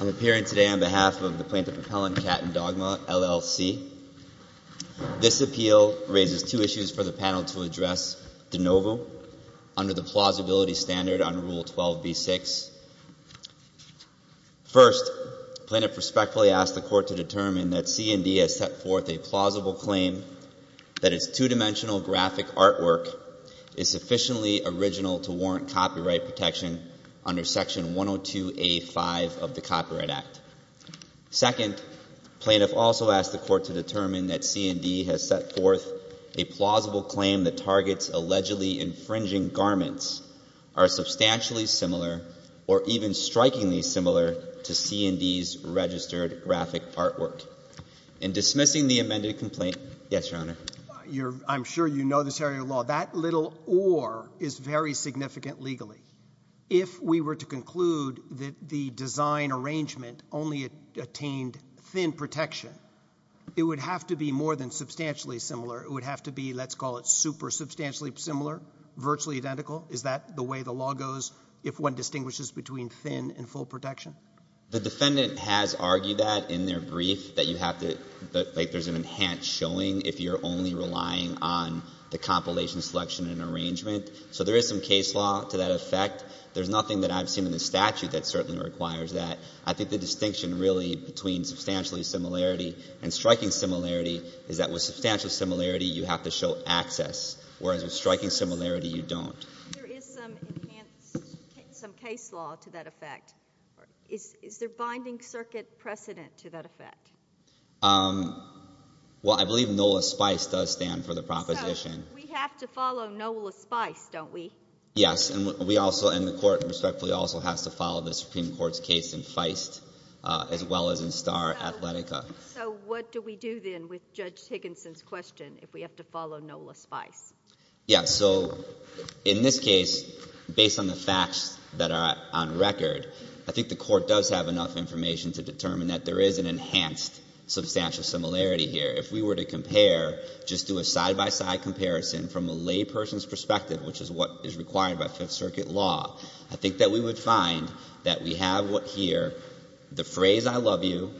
I'm appearing today on behalf of the Plaintiff Appellant, Cat and Dogma, LLC. This appeal raises two issues for the panel to address de novo under the plausibility standard under Rule 12b-6. First, the plaintiff respectfully asks the court to determine that C&D has set forth a plausible claim that its two-dimensional graphic artwork is sufficiently original to warrant copyright protection under Section 102a-5 of the Copyright Act. Second, the plaintiff also asks the court to determine that C&D has set forth a plausible claim that Target's allegedly infringing garments are substantially similar or even strikingly similar to C&D's registered graphic artwork. In dismissing the amended complaint Yes, Your Honor. I'm sure you know this area of law. That little or is very significant legally. If we were to conclude that the design arrangement only attained thin protection, it would have to be more than substantially similar. It would have to be, let's call it, super substantially similar, virtually identical. Is that the way the law goes if one distinguishes between thin and full protection? The defendant has argued that in their brief, that you have to – if you're only relying on the compilation selection and arrangement. So there is some case law to that effect. There's nothing that I've seen in the statute that certainly requires that. I think the distinction really between substantially similarity and striking similarity is that with substantial similarity, you have to show access, whereas with striking similarity, you don't. There is some enhanced – some case law to that effect. Is there binding circuit precedent to that effect? Well, I believe NOLA Spice does stand for the proposition. So we have to follow NOLA Spice, don't we? Yes, and we also – and the court respectfully also has to follow the Supreme Court's case in Feist as well as in Starr Athletica. So what do we do then with Judge Higginson's question if we have to follow NOLA Spice? Yes, so in this case, based on the facts that are on record, I think the court does have enough information to determine that there is an enhanced substantial similarity here. If we were to compare, just do a side-by-side comparison from a layperson's perspective, which is what is required by Fifth Circuit law, I think that we would find that we have here the phrase I love you,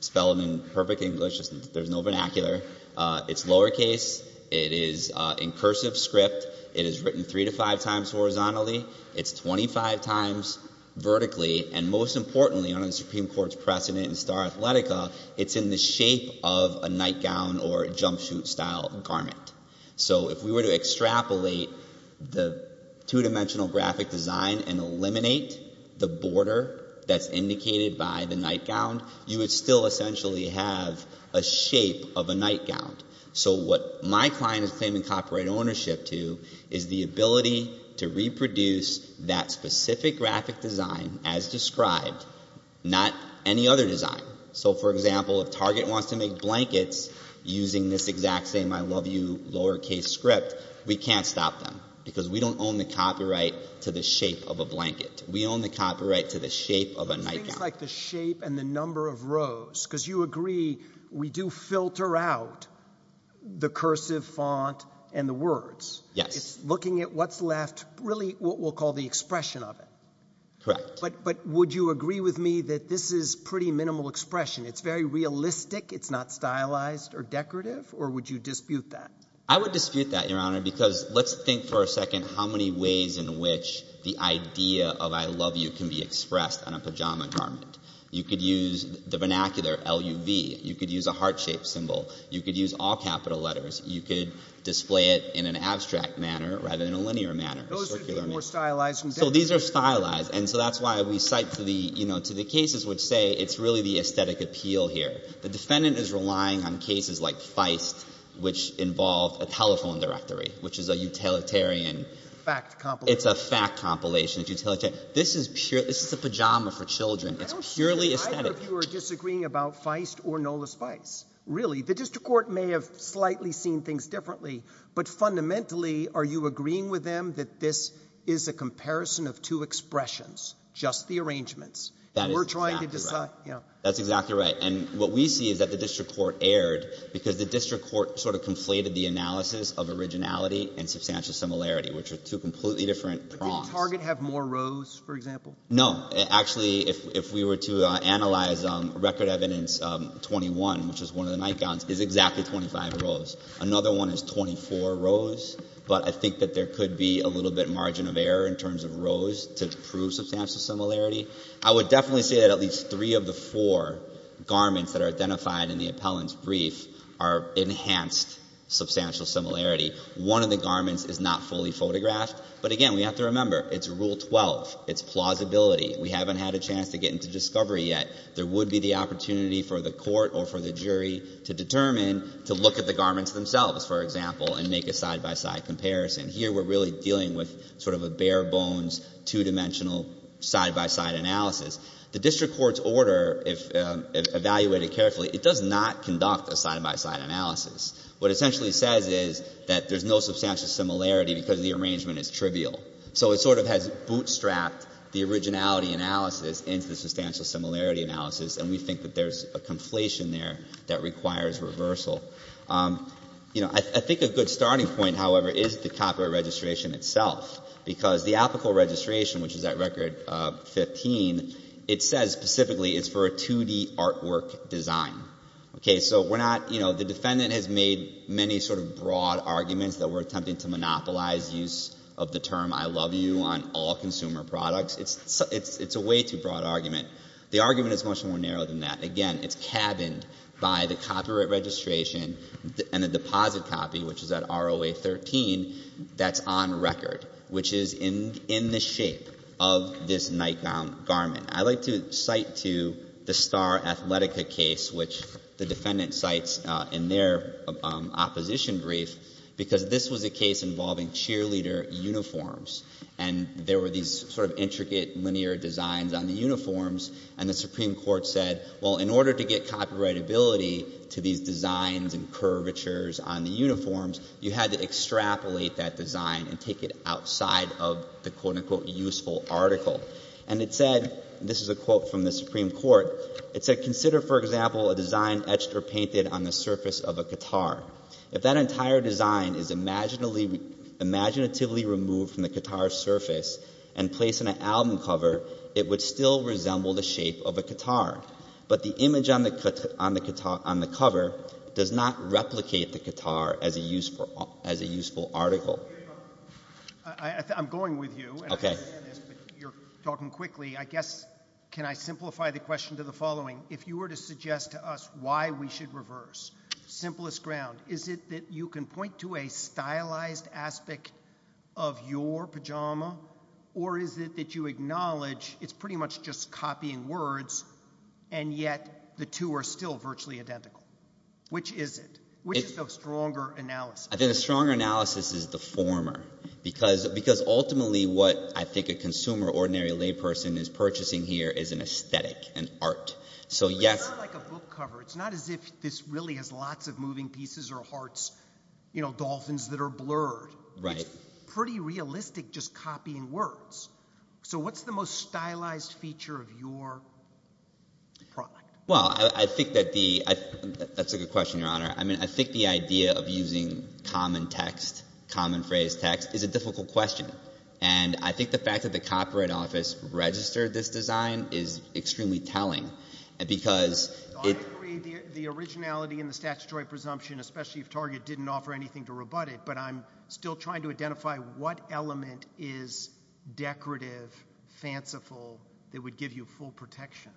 spelled in perfect English, there's no vernacular. It's lowercase. It is in cursive script. It is written three to five times horizontally. It's 25 times vertically. And most importantly, under the Supreme Court's precedent in Starr Athletica, it's in the shape of a nightgown or a jumpsuit-style garment. So if we were to extrapolate the two-dimensional graphic design and eliminate the border that's indicated by the nightgown, you would still essentially have a shape of a nightgown. So what my client is claiming copyright ownership to is the ability to reproduce that specific graphic design as described, not any other design. So, for example, if Target wants to make blankets using this exact same I love you lowercase script, we can't stop them because we don't own the copyright to the shape of a blanket. We own the copyright to the shape of a nightgown. So things like the shape and the number of rows, because you agree we do filter out the cursive font and the words. Yes. It's looking at what's left, really what we'll call the expression of it. Correct. But would you agree with me that this is pretty minimal expression? It's very realistic. It's not stylized or decorative, or would you dispute that? I would dispute that, Your Honor, because let's think for a second how many ways in which the idea of I love you can be expressed on a pajama garment. You could use the vernacular, L-U-V. You could use a heart-shaped symbol. You could use all capital letters. You could display it in an abstract manner rather than a linear manner. Those would be more stylized than decorative. So these are stylized, and so that's why we cite to the cases which say it's really the aesthetic appeal here. The defendant is relying on cases like Feist, which involve a telephone directory, which is a utilitarian. Fact compilation. It's a fact compilation. It's utilitarian. This is a pajama for children. It's purely aesthetic. I don't see either of you are disagreeing about Feist or Nola's Feist, really. The district court may have slightly seen things differently, but fundamentally, are you agreeing with them that this is a comparison of two expressions, just the arrangements? That is exactly right. And we're trying to decide. That's exactly right. And what we see is that the district court erred because the district court sort of conflated the analysis of originality and substantial similarity, which are two completely different prongs. But didn't Target have more rows, for example? No. Actually, if we were to analyze record evidence, 21, which is one of the nightgowns, is exactly 25 rows. Another one is 24 rows, but I think that there could be a little bit margin of error in terms of rows to prove substantial similarity. I would definitely say that at least three of the four garments that are identified in the appellant's brief are enhanced substantial similarity. One of the garments is not fully photographed. But, again, we have to remember, it's Rule 12. It's plausibility. We haven't had a chance to get into discovery yet. There would be the opportunity for the court or for the jury to determine, to look at the garments themselves, for example, and make a side-by-side comparison. Here we're really dealing with sort of a bare-bones, two-dimensional, side-by-side analysis. The district court's order, if evaluated carefully, it does not conduct a side-by-side analysis. What it essentially says is that there's no substantial similarity because the arrangement is trivial. So it sort of has bootstrapped the originality analysis into the substantial similarity analysis, and we think that there's a conflation there that requires reversal. You know, I think a good starting point, however, is the copyright registration itself, because the applicable registration, which is at Record 15, it says specifically it's for a 2-D artwork design. Okay, so we're not, you know, the defendant has made many sort of broad arguments that we're attempting to monopolize use of the term I love you on all consumer products. It's a way too broad argument. The argument is much more narrow than that. Again, it's cabined by the copyright registration and the deposit copy, which is at ROA 13, that's on record, which is in the shape of this nightgown garment. I'd like to cite to the Star Athletica case, which the defendant cites in their opposition brief, because this was a case involving cheerleader uniforms, and there were these sort of intricate, linear designs on the uniforms, and the Supreme Court said, well, in order to get copyrightability to these designs and curvatures on the uniforms, you had to extrapolate that design and take it outside of the quote-unquote useful article. And it said, this is a quote from the Supreme Court, it said, consider, for example, a design etched or painted on the surface of a qatar. If that entire design is imaginatively removed from the qatar's surface and placed in an album cover, it would still resemble the shape of a qatar. But the image on the cover does not replicate the qatar as a useful article. I'm going with you, but you're talking quickly. I guess, can I simplify the question to the following? If you were to suggest to us why we should reverse, simplest ground, is it that you can point to a stylized aspect of your pajama, or is it that you acknowledge it's pretty much just copying words, and yet the two are still virtually identical? Which is it? Which is the stronger analysis? I think the stronger analysis is the former. Because ultimately what I think a consumer, ordinary layperson, is purchasing here is an aesthetic, an art. It's not like a book cover. It's not as if this really has lots of moving pieces or hearts, you know, dolphins that are blurred. It's pretty realistic just copying words. So what's the most stylized feature of your product? Well, I think that the ‑‑ that's a good question, Your Honor. I mean, I think the idea of using common text, common phrased text, is a difficult question. And I think the fact that the Copyright Office registered this design is extremely telling. I agree. The originality and the statutory presumption, especially if Target didn't offer anything to rebut it, but I'm still trying to identify what element is decorative, fanciful, that would give you full protection.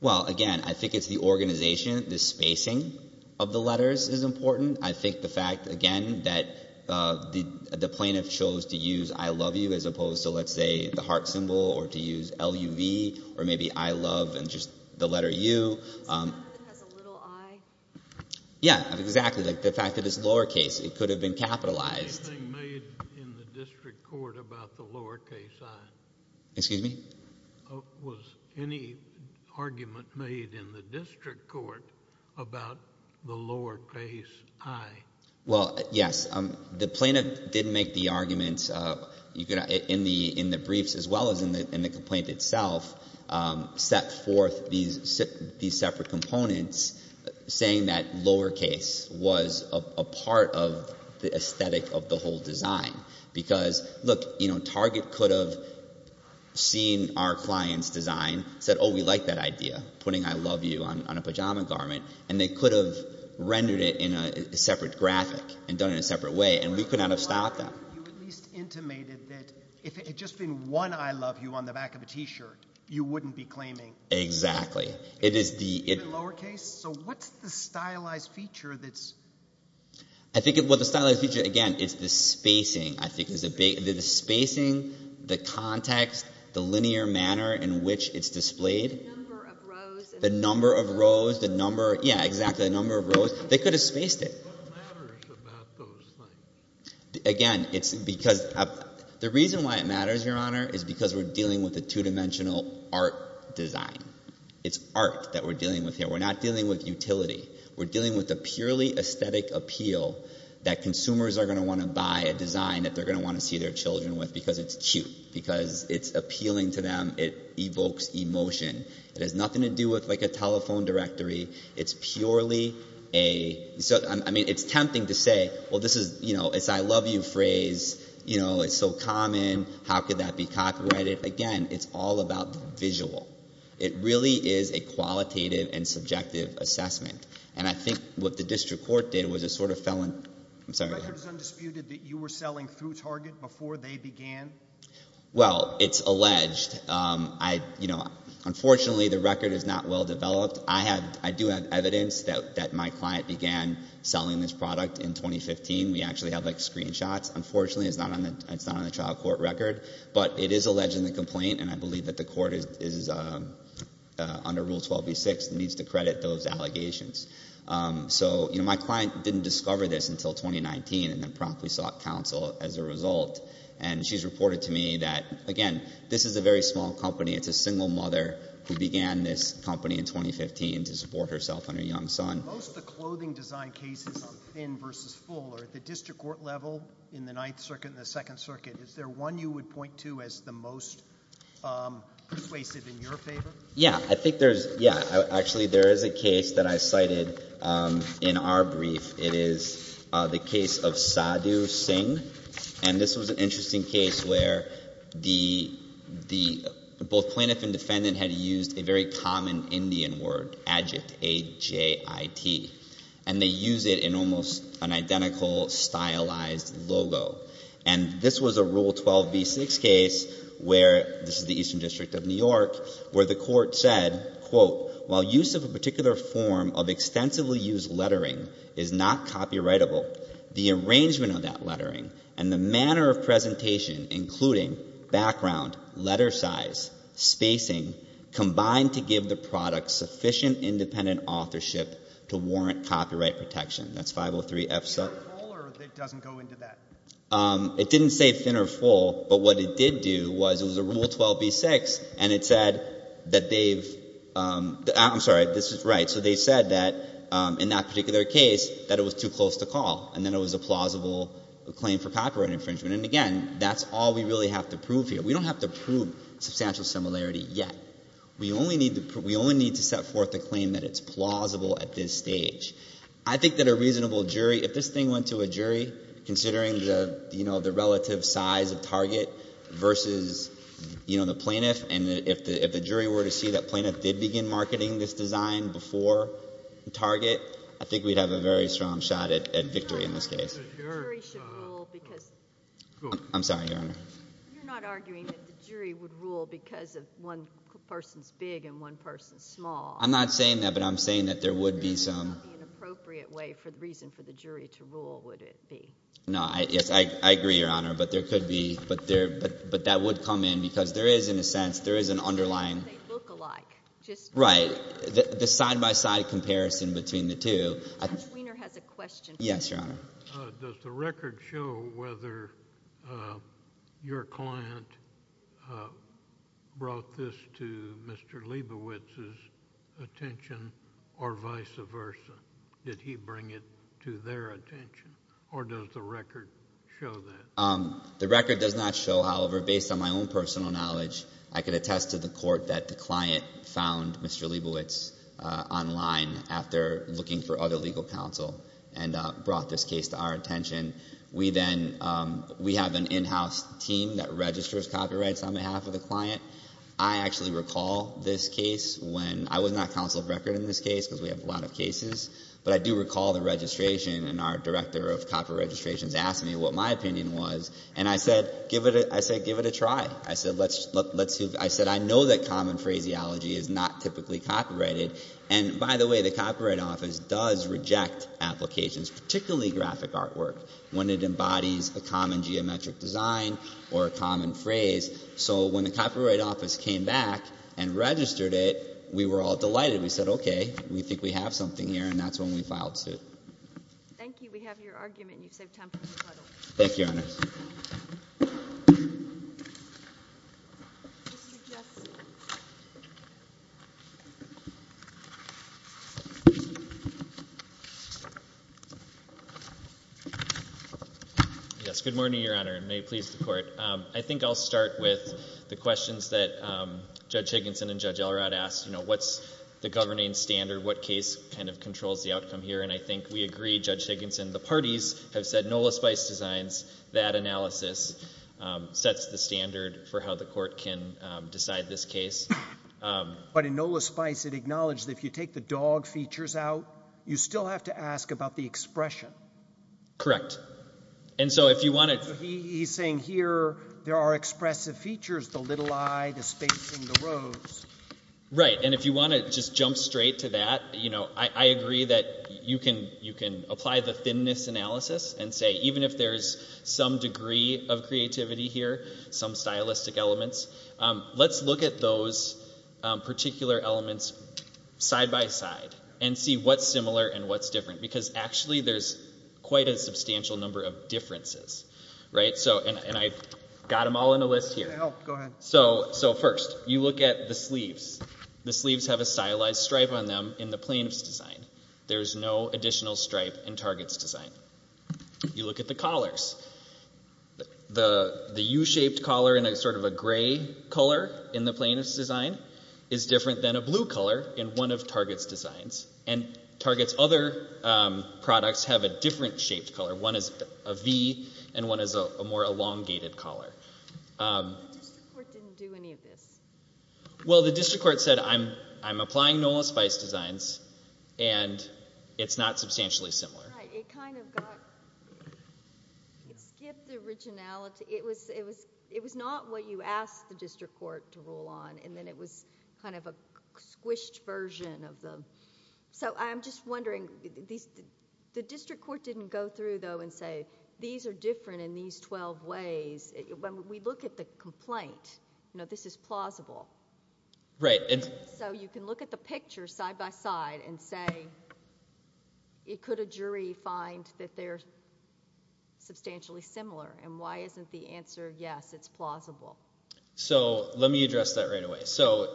Well, again, I think it's the organization, the spacing of the letters is important. I think the fact, again, that the plaintiff chose to use I love you as opposed to, let's say, the heart symbol or to use L-U-V or maybe I love and just the letter U. It has a little I. Yeah, exactly, like the fact that it's lowercase. It could have been capitalized. Anything made in the district court about the lowercase I? Excuse me? Was any argument made in the district court about the lowercase I? Well, yes. The plaintiff did make the argument in the briefs as well as in the complaint itself, set forth these separate components saying that lowercase was a part of the aesthetic of the whole design. Because, look, Target could have seen our client's design, said, oh, we like that idea, putting I love you on a pajama garment, and they could have rendered it in a separate graphic and done it in a separate way, and we could not have stopped them. You at least intimated that if it had just been one I love you on the back of a T-shirt, you wouldn't be claiming… Exactly. …even lowercase? So what's the stylized feature that's… I think what the stylized feature, again, is the spacing. I think it's the spacing, the context, the linear manner in which it's displayed. The number of rows. The number of rows, the number, yeah, exactly, the number of rows. They could have spaced it. What matters about those things? Again, it's because the reason why it matters, Your Honor, is because we're dealing with a two-dimensional art design. It's art that we're dealing with here. We're not dealing with utility. We're dealing with a purely aesthetic appeal that consumers are going to want to buy a design that they're going to want to see their children with because it's cute, because it's appealing to them. It evokes emotion. It has nothing to do with, like, a telephone directory. It's purely a… I mean, it's tempting to say, well, this is, you know, it's I love you phrase. You know, it's so common. How could that be copyrighted? Again, it's all about visual. It really is a qualitative and subjective assessment, and I think what the district court did was it sort of fell in. I'm sorry. The record is undisputed that you were selling through Target before they began? Well, it's alleged. You know, unfortunately, the record is not well developed. I do have evidence that my client began selling this product in 2015. We actually have, like, screenshots. Unfortunately, it's not on the trial court record, but it is alleged in the complaint, and I believe that the court is under Rule 12b-6 and needs to credit those allegations. So, you know, my client didn't discover this until 2019 and then promptly sought counsel as a result, and she's reported to me that, again, this is a very small company. It's a single mother who began this company in 2015 to support herself and her young son. Most of the clothing design cases on thin versus full are at the district court level in the Ninth Circuit and the Second Circuit. Is there one you would point to as the most pervasive in your favor? Yeah, I think there's, yeah, actually there is a case that I cited in our brief. It is the case of Sadhu Singh, and this was an interesting case where the, both plaintiff and defendant had used a very common Indian word, ajit, A-J-I-T, and they use it in almost an identical stylized logo. And this was a Rule 12b-6 case where, this is the Eastern District of New York, where the court said, quote, while use of a particular form of extensively used lettering is not copyrightable, the arrangement of that lettering and the manner of presentation, including background, letter size, spacing, combined to give the product sufficient independent authorship to warrant copyright protection. That's 503-F-7. Thin or full, or it doesn't go into that? It didn't say thin or full, but what it did do was it was a Rule 12b-6, and it said that they've, I'm sorry, this is right. So they said that in that particular case that it was too close to call, and then it was a plausible claim for copyright infringement. And, again, that's all we really have to prove here. We don't have to prove substantial similarity yet. We only need to set forth a claim that it's plausible at this stage. I think that a reasonable jury, if this thing went to a jury, considering the, you know, the relative size of Target versus, you know, the plaintiff, and if the jury were to see that plaintiff did begin marketing this design before Target, I think we'd have a very strong shot at victory in this case. The jury should rule because. I'm sorry, Your Honor. You're not arguing that the jury would rule because one person's big and one person's small. I'm not saying that, but I'm saying that there would be some. There would not be an appropriate way for the reason for the jury to rule, would it be? No. Yes, I agree, Your Honor, but there could be. But that would come in because there is, in a sense, there is an underlying. They look alike. Right. The side-by-side comparison between the two. Mr. Weiner has a question. Yes, Your Honor. Does the record show whether your client brought this to Mr. Leibowitz's attention or vice versa? Did he bring it to their attention, or does the record show that? The record does not show. However, based on my own personal knowledge, I can attest to the court that the client found Mr. Leibowitz online after looking for other legal counsel and brought this case to our attention. We then have an in-house team that registers copyrights on behalf of the client. I actually recall this case when I was not counsel of record in this case because we have a lot of cases, but I do recall the registration and our director of copy registrations asked me what my opinion was, and I said give it a try. I said I know that common phraseology is not typically copyrighted. And, by the way, the Copyright Office does reject applications, particularly graphic artwork, when it embodies a common geometric design or a common phrase. So when the Copyright Office came back and registered it, we were all delighted. We said, okay, we think we have something here, and that's when we filed suit. Thank you. We have your argument, and you've saved time for a rebuttal. Thank you, Your Honor. Yes. Good morning, Your Honor, and may it please the Court. I think I'll start with the questions that Judge Higginson and Judge Elrod asked. What's the governing standard? What case kind of controls the outcome here? And I think we agree, Judge Higginson, the parties have said Nola Spice designs that analysis, sets the standard for how the Court can decide this case. But in Nola Spice it acknowledged that if you take the dog features out, you still have to ask about the expression. Correct. And so if you want to – He's saying here there are expressive features, the little eye, the spacing, the rose. I agree that you can apply the thinness analysis and say even if there's some degree of creativity here, some stylistic elements, let's look at those particular elements side by side and see what's similar and what's different, because actually there's quite a substantial number of differences. And I've got them all in a list here. So first, you look at the sleeves. The sleeves have a stylized stripe on them in the plaintiff's design. There's no additional stripe in Target's design. You look at the collars. The U-shaped collar in sort of a gray color in the plaintiff's design is different than a blue color in one of Target's designs. And Target's other products have a different shaped collar. One is a V and one is a more elongated collar. The district court didn't do any of this. Well, the district court said I'm applying Nola Spice designs, and it's not substantially similar. Right, it kind of got, it skipped originality. It was not what you asked the district court to rule on, and then it was kind of a squished version of them. So I'm just wondering, the district court didn't go through, though, and say these are different in these 12 ways. When we look at the complaint, you know, this is plausible. Right. So you can look at the picture side by side and say, could a jury find that they're substantially similar, and why isn't the answer yes, it's plausible? So let me address that right away. So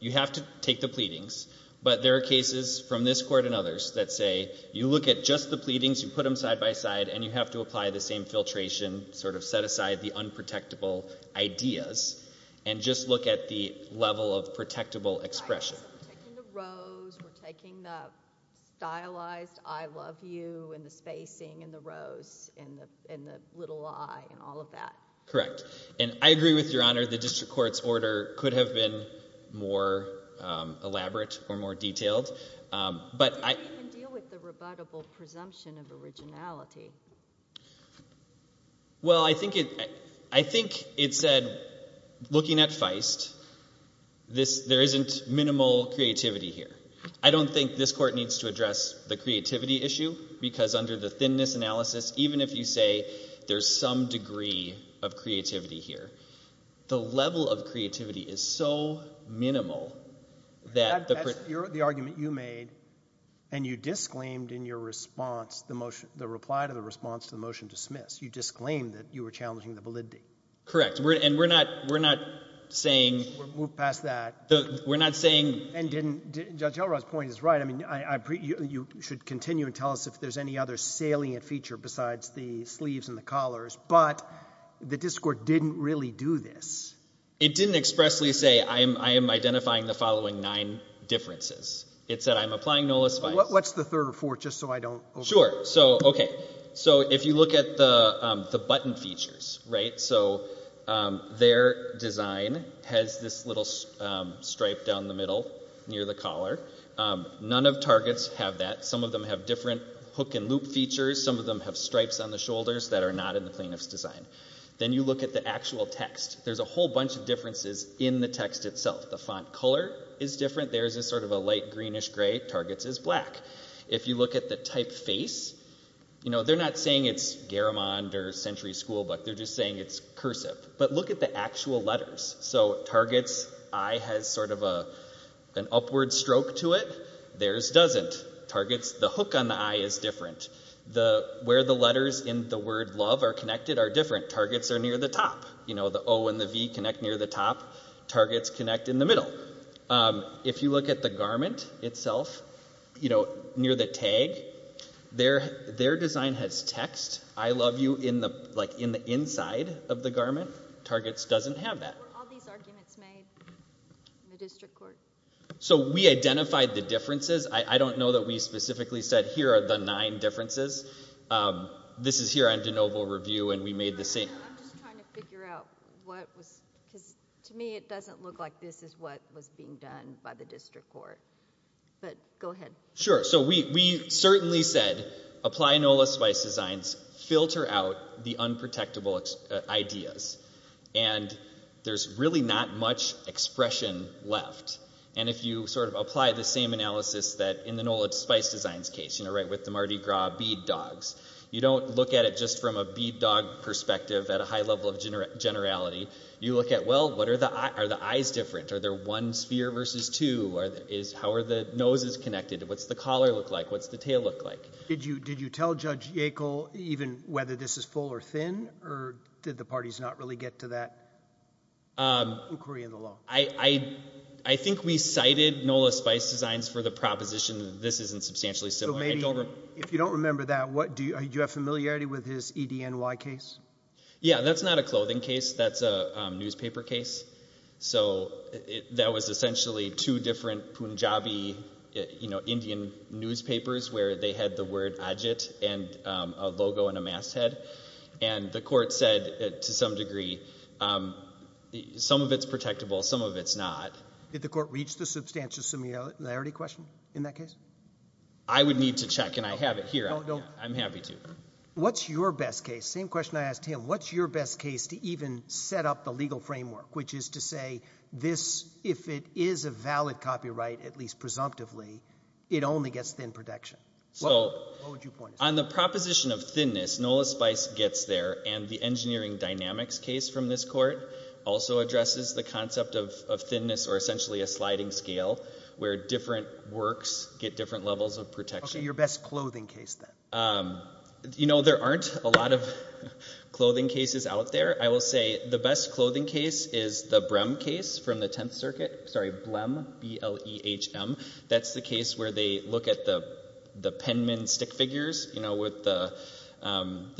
you have to take the pleadings, but there are cases from this court and others that say you look at just the pleadings, you put them side by side, and you have to apply the same filtration, sort of set aside the unprotectable ideas, and just look at the level of protectable expression. Right, so we're taking the rose, we're taking the stylized I love you and the spacing and the rose and the little eye and all of that. Correct. And I agree with Your Honor, the district court's order could have been more elaborate or more detailed. How do you even deal with the rebuttable presumption of originality? Well, I think it said, looking at Feist, there isn't minimal creativity here. I don't think this court needs to address the creativity issue because under the thinness analysis, even if you say there's some degree of creativity here, the level of creativity is so minimal that the person who made the point you made, and you disclaimed in your response the motion, the reply to the response, the motion dismissed, you disclaimed that you were challenging the validity. Correct. And we're not saying we're not saying. And Judge Elrod's point is right. I mean, you should continue to tell us if there's any other salient feature besides the sleeves and the collars, but the district court didn't really do this. It didn't expressly say I am identifying the following nine differences. It said I'm applying NOLA spice. What's the third or fourth, just so I don't overdo it? Sure. So, okay, so if you look at the button features, right, so their design has this little stripe down the middle near the collar. None of targets have that. Some of them have different hook and loop features. Some of them have stripes on the shoulders that are not in the plaintiff's design. Then you look at the actual text. There's a whole bunch of differences in the text itself. The font color is different. Theirs is sort of a light greenish gray. Targets is black. If you look at the typeface, you know, they're not saying it's Garamond or Century School, but they're just saying it's cursive. But look at the actual letters. So targets, I has sort of an upward stroke to it. Theirs doesn't. Targets, the hook on the I is different. Where the letters in the word love are connected are different. Targets are near the top. You know, the O and the V connect near the top. Targets connect in the middle. If you look at the Garamond itself, you know, near the tag, their design has text, I love you, like in the inside of the Garamond. Targets doesn't have that. Were all these arguments made in the district court? So we identified the differences. I don't know that we specifically said here are the nine differences. This is here on de novo review, and we made the same. I'm just trying to figure out what was, because to me it doesn't look like this is what was being done by the district court. But go ahead. Sure. So we certainly said apply NOLA Spice Designs, filter out the unprotectable ideas. And there's really not much expression left. And if you sort of apply the same analysis that in the NOLA Spice Designs case, you know, right with the Mardi Gras bead dogs, you don't look at it just from a bead dog perspective at a high level of generality. You look at, well, are the eyes different? Are there one sphere versus two? How are the noses connected? What's the collar look like? What's the tail look like? Did you tell Judge Yackel even whether this is full or thin, or did the parties not really get to that inquiry in the law? I think we cited NOLA Spice Designs for the proposition that this isn't substantially similar. If you don't remember that, do you have familiarity with his EDNY case? Yeah, that's not a clothing case. That's a newspaper case. So that was essentially two different Punjabi Indian newspapers where they had the word Ajit and a logo and a masthead. And the court said, to some degree, some of it's protectable, some of it's not. Did the court reach the substantial similarity question in that case? I would need to check, and I have it here. I'm happy to. What's your best case? Same question I asked him. What's your best case to even set up the legal framework, which is to say if it is a valid copyright, at least presumptively, it only gets thin protection? What would you point us to? On the proposition of thinness, NOLA Spice gets there, and the engineering dynamics case from this court also addresses the concept of thinness or essentially a sliding scale where different works get different levels of protection. Okay, your best clothing case, then. You know, there aren't a lot of clothing cases out there. I will say the best clothing case is the Brehm case from the Tenth Circuit. Sorry, Blehm, B-L-E-H-M. That's the case where they look at the Penman stick figures, you know, with the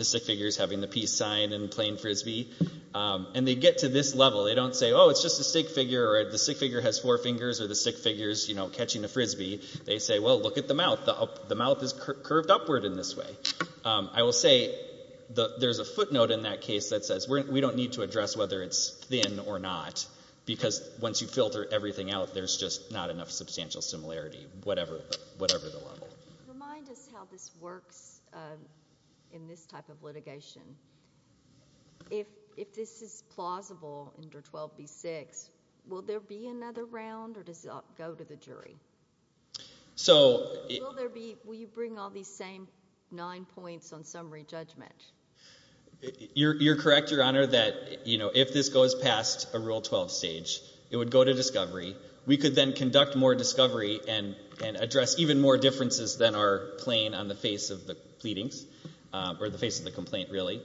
stick figures having the peace sign and playing Frisbee. And they get to this level. They don't say, oh, it's just a stick figure, or the stick figure has four fingers, or the stick figure is catching the Frisbee. They say, well, look at the mouth. The mouth is curved upward in this way. I will say there's a footnote in that case that says we don't need to address whether it's thin or not because once you filter everything out, there's just not enough substantial similarity, whatever the level. Remind us how this works in this type of litigation. If this is plausible under 12b-6, will there be another round or does it go to the jury? Will you bring all these same nine points on summary judgment? You're correct, Your Honor, that if this goes past a Rule 12 stage, it would go to discovery. We could then conduct more discovery and address even more differences than are plain on the face of the pleadings or the face of the complaint, really.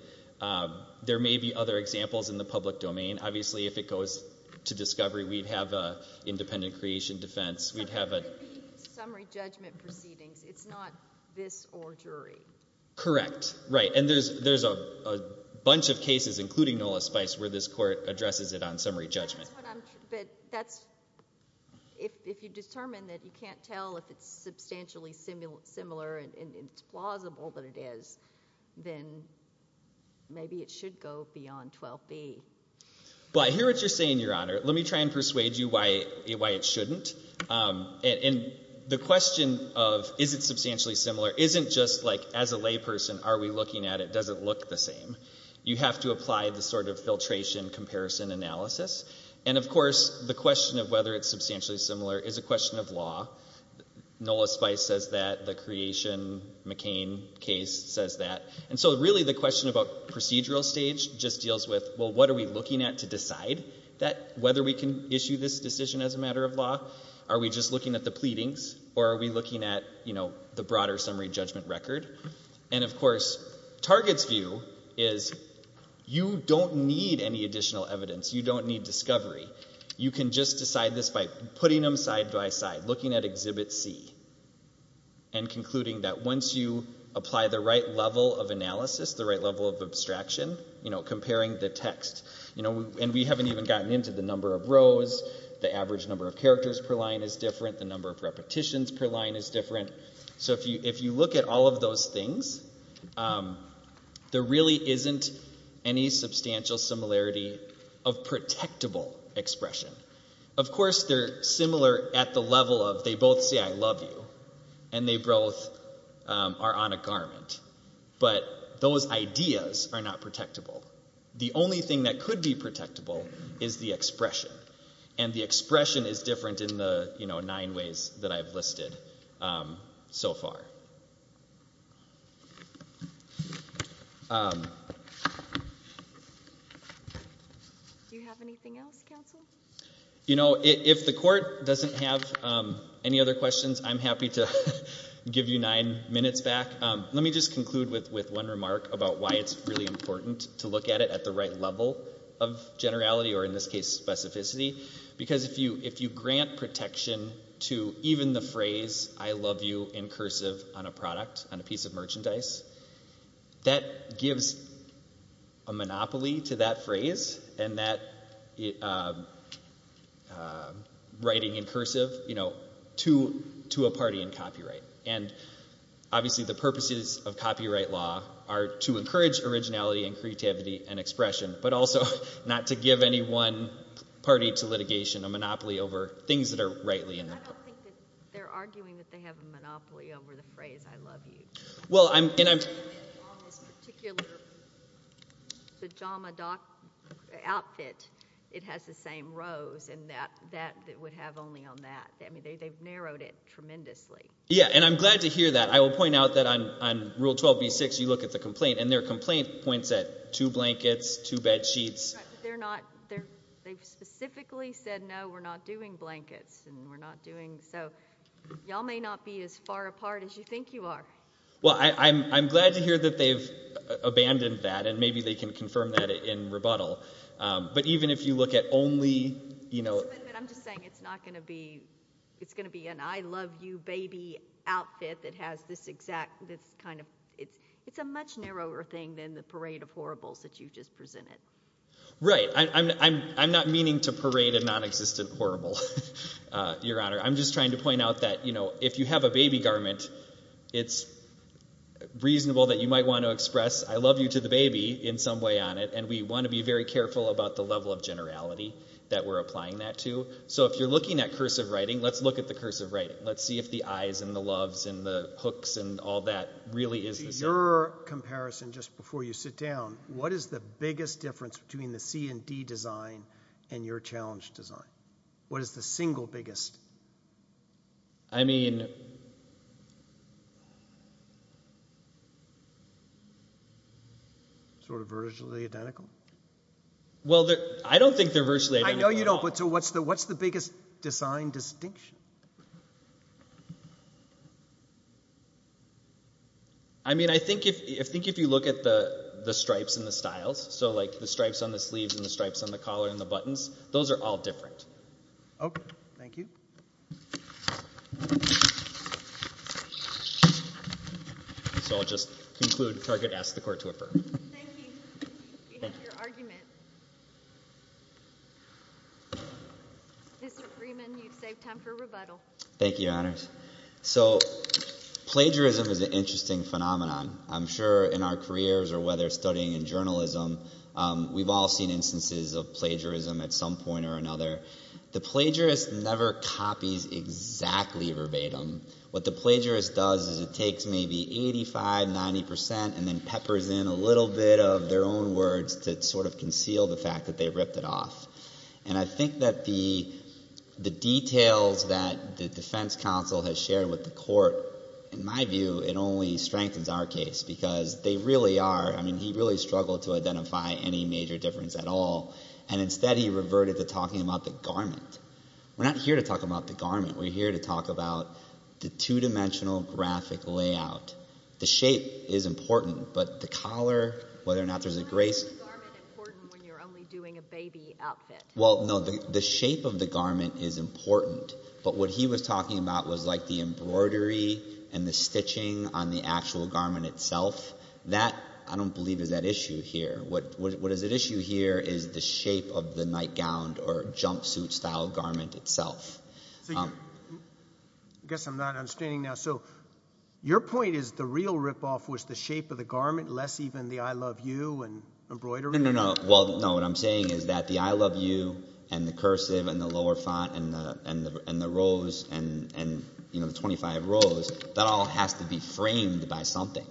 There may be other examples in the public domain. Obviously, if it goes to discovery, we'd have an independent creation defense. It's not going to be summary judgment proceedings. It's not this or jury. Correct, right. And there's a bunch of cases, including Nola Spice, where this court addresses it on summary judgment. But if you determine that you can't tell if it's substantially similar and it's plausible that it is, then maybe it should go beyond 12b. But I hear what you're saying, Your Honor. Let me try and persuade you why it shouldn't. And the question of is it substantially similar isn't just, like, as a layperson, are we looking at it? Does it look the same? You have to apply the sort of filtration comparison analysis. And, of course, the question of whether it's substantially similar is a question of law. Nola Spice says that. The creation McCain case says that. And so really the question about procedural stage just deals with, well, what are we looking at to decide whether we can issue this decision as a matter of law? Are we just looking at the pleadings or are we looking at the broader summary judgment record? And, of course, Target's view is you don't need any additional evidence. You don't need discovery. You can just decide this by putting them side by side, looking at Exhibit C and concluding that once you apply the right level of analysis, the right level of abstraction, you know, comparing the text, and we haven't even gotten into the number of rows, the average number of characters per line is different, the number of repetitions per line is different. So if you look at all of those things, there really isn't any substantial similarity of protectable expression. Of course they're similar at the level of they both say I love you and they both are on a garment, but those ideas are not protectable. The only thing that could be protectable is the expression, and the expression is different in the nine ways that I've listed so far. Do you have anything else, counsel? You know, if the court doesn't have any other questions, I'm happy to give you nine minutes back. Let me just conclude with one remark about why it's really important to look at it at the right level of generality or, in this case, specificity, because if you grant protection to even the phrase I love you in cursive on a product, on a piece of merchandise, that gives a monopoly to that phrase and that writing in cursive to a party in copyright. And obviously the purposes of copyright law are to encourage originality and creativity and expression, but also not to give any one party to litigation a monopoly over things that are rightly in the book. I don't think that they're arguing that they have a monopoly over the phrase I love you. Well, and I'm... On this particular pajama outfit, it has the same rows, and that would have only on that. I mean, they've narrowed it tremendously. Yeah, and I'm glad to hear that. I will point out that on Rule 12b-6, you look at the complaint, and their complaint points at two blankets, two bedsheets. Right, but they've specifically said, No, we're not doing blankets, and we're not doing... So y'all may not be as far apart as you think you are. Well, I'm glad to hear that they've abandoned that, and maybe they can confirm that in rebuttal. But even if you look at only... But I'm just saying it's not going to be... It's going to be an I love you baby outfit that has this exact... It's a much narrower thing than the parade of horribles that you've just presented. Right. I'm not meaning to parade a non-existent horrible, Your Honor. I'm just trying to point out that, you know, if you have a baby garment, it's reasonable that you might want to express I love you to the baby in some way on it, and we want to be very careful about the level of generality that we're applying that to. So if you're looking at cursive writing, let's look at the cursive writing. Let's see if the I's and the loves and the hooks and all that really is the same. In your comparison, just before you sit down, what is the biggest difference between the C&D design and your challenge design? What is the single biggest? I mean... Sort of virtually identical? Well, I don't think they're virtually identical. I know you don't, but what's the biggest design distinction? I mean, I think if you look at the stripes and the styles, so, like, the stripes on the sleeves and the stripes on the collar and the buttons, those are all different. Oh, thank you. So I'll just conclude. Target asked the court to affirm. Thank you. We have your argument. Mr. Freeman, you've saved time for rebuttal. Thank you, Your Honours. So plagiarism is an interesting phenomenon. I'm sure in our careers or whether studying in journalism, we've all seen instances of plagiarism at some point or another. The plagiarist never copies exactly verbatim. What the plagiarist does is it takes maybe 85%, 90% and then peppers in a little bit of their own words to sort of conceal the fact that they ripped it off. And I think that the details that the defense counsel has shared with the court, in my view, it only strengthens our case, because they really are... I mean, he really struggled to identify any major difference at all, and instead he reverted to talking about the garment. We're not here to talk about the garment. We're here to talk about the two-dimensional graphic layout. The shape is important, but the collar, whether or not there's a grace... Why is the garment important when you're only doing a baby outfit? Well, no, the shape of the garment is important, but what he was talking about was, like, the embroidery and the stitching on the actual garment itself. That, I don't believe, is at issue here. What is at issue here is the shape of the nightgown or jumpsuit-style garment itself. I guess I'm not understanding now. So your point is the real rip-off was the shape of the garment, less even the I love you and embroidery? No, what I'm saying is that the I love you and the cursive and the lower font and the rose and the 25 rows, that all has to be framed by something,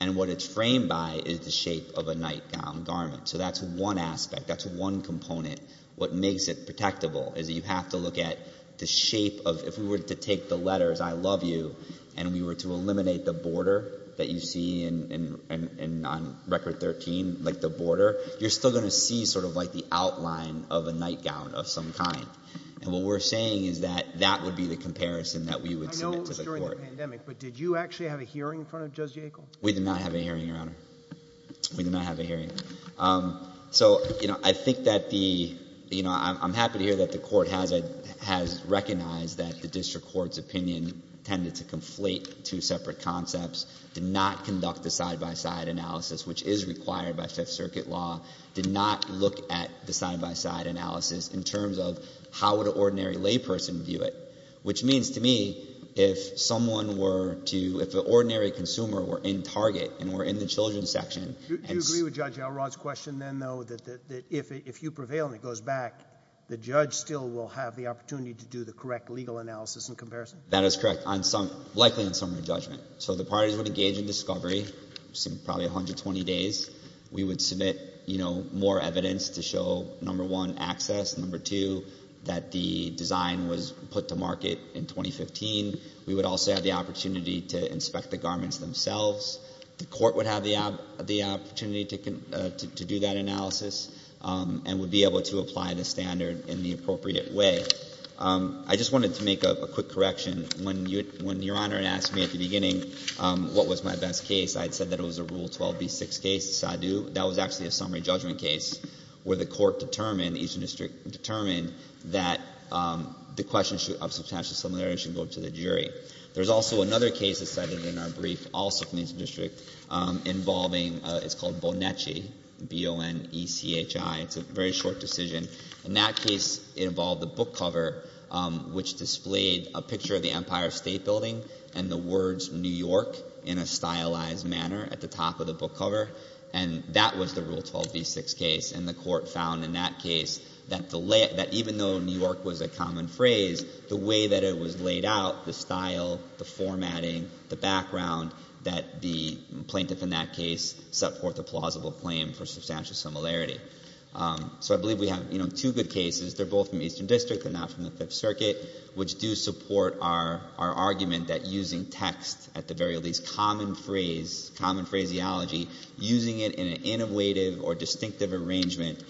and what it's framed by is the shape of a nightgown garment. So that's one aspect, that's one component. What makes it protectable is that you have to look at the shape of... If we were to take the letters I love you and we were to eliminate the border that you see on Record 13, like the border, you're still going to see sort of, like, the outline of a nightgown of some kind. And what we're saying is that that would be the comparison that we would submit to the court. I know it was during the pandemic, but did you actually have a hearing in front of Judge Yackel? We did not have a hearing, Your Honour. We did not have a hearing. So, you know, I think that the... You know, I'm happy to hear that the court has recognized that the district court's opinion tended to conflate two separate concepts, did not conduct a side-by-side analysis, which is required by Fifth Circuit law, did not look at the side-by-side analysis in terms of how would an ordinary layperson view it, which means to me if someone were to... If an ordinary consumer were in Target and were in the children's section... Do you agree with Judge Elrod's question then, though, that if you prevail and it goes back, the judge still will have the opportunity to do the correct legal analysis and comparison? That is correct, likely on summary judgment. So the parties would engage in discovery, probably 120 days. We would submit, you know, more evidence to show, number one, access, number two, that the design was put to market in 2015. We would also have the opportunity to inspect the garments themselves. The court would have the opportunity to do that analysis and would be able to apply the standard in the appropriate way. I just wanted to make a quick correction. When Your Honor asked me at the beginning what was my best case, I had said that it was a Rule 12b6 case, Sadu. That was actually a summary judgment case where the court determined, the Eastern District determined, that the question of substantial similarity should go to the jury. There's also another case that's cited in our brief, also from the Eastern District, involving, it's called Boneci, B-O-N-E-C-H-I. It's a very short decision. In that case, it involved a book cover which displayed a picture of the Empire State Building and the words New York in a stylized manner at the top of the book cover. And that was the Rule 12b6 case. And the court found in that case that even though New York was a common phrase, the way that it was laid out, the style, the formatting, the background, that the plaintiff in that case set forth a plausible claim for substantial similarity. So I believe we have two good cases. They're both from Eastern District, they're not from the Fifth Circuit, which do support our argument that using text at the very least, common phrase, common phraseology, using it in an innovative or distinctive arrangement,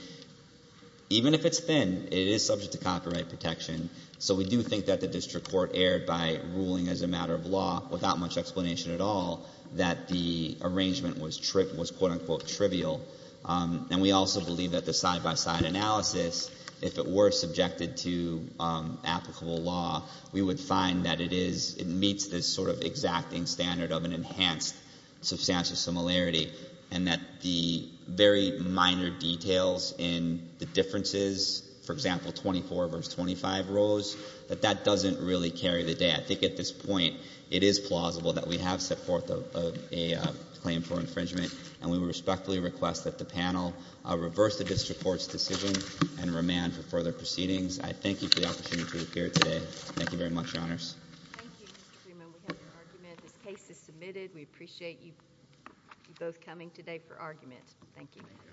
even if it's thin, it is subject to copyright protection. So we do think that the District Court erred by ruling as a matter of law without much explanation at all that the arrangement was quote-unquote trivial. And we also believe that the side-by-side analysis, if it were subjected to applicable law, we would find that it meets this sort of exacting standard of an enhanced substantial similarity and that the very minor details in the differences, for example, 24 versus 25 rows, that that doesn't really carry the day. I think at this point it is plausible that we have set forth a claim for infringement, and we respectfully request that the panel reverse the District Court's decision and remand for further proceedings. I thank you for the opportunity to appear today. Thank you very much, Your Honors. Thank you, Mr. Freeman. We have your argument. This case is submitted. We appreciate you both coming today for argument. Thank you.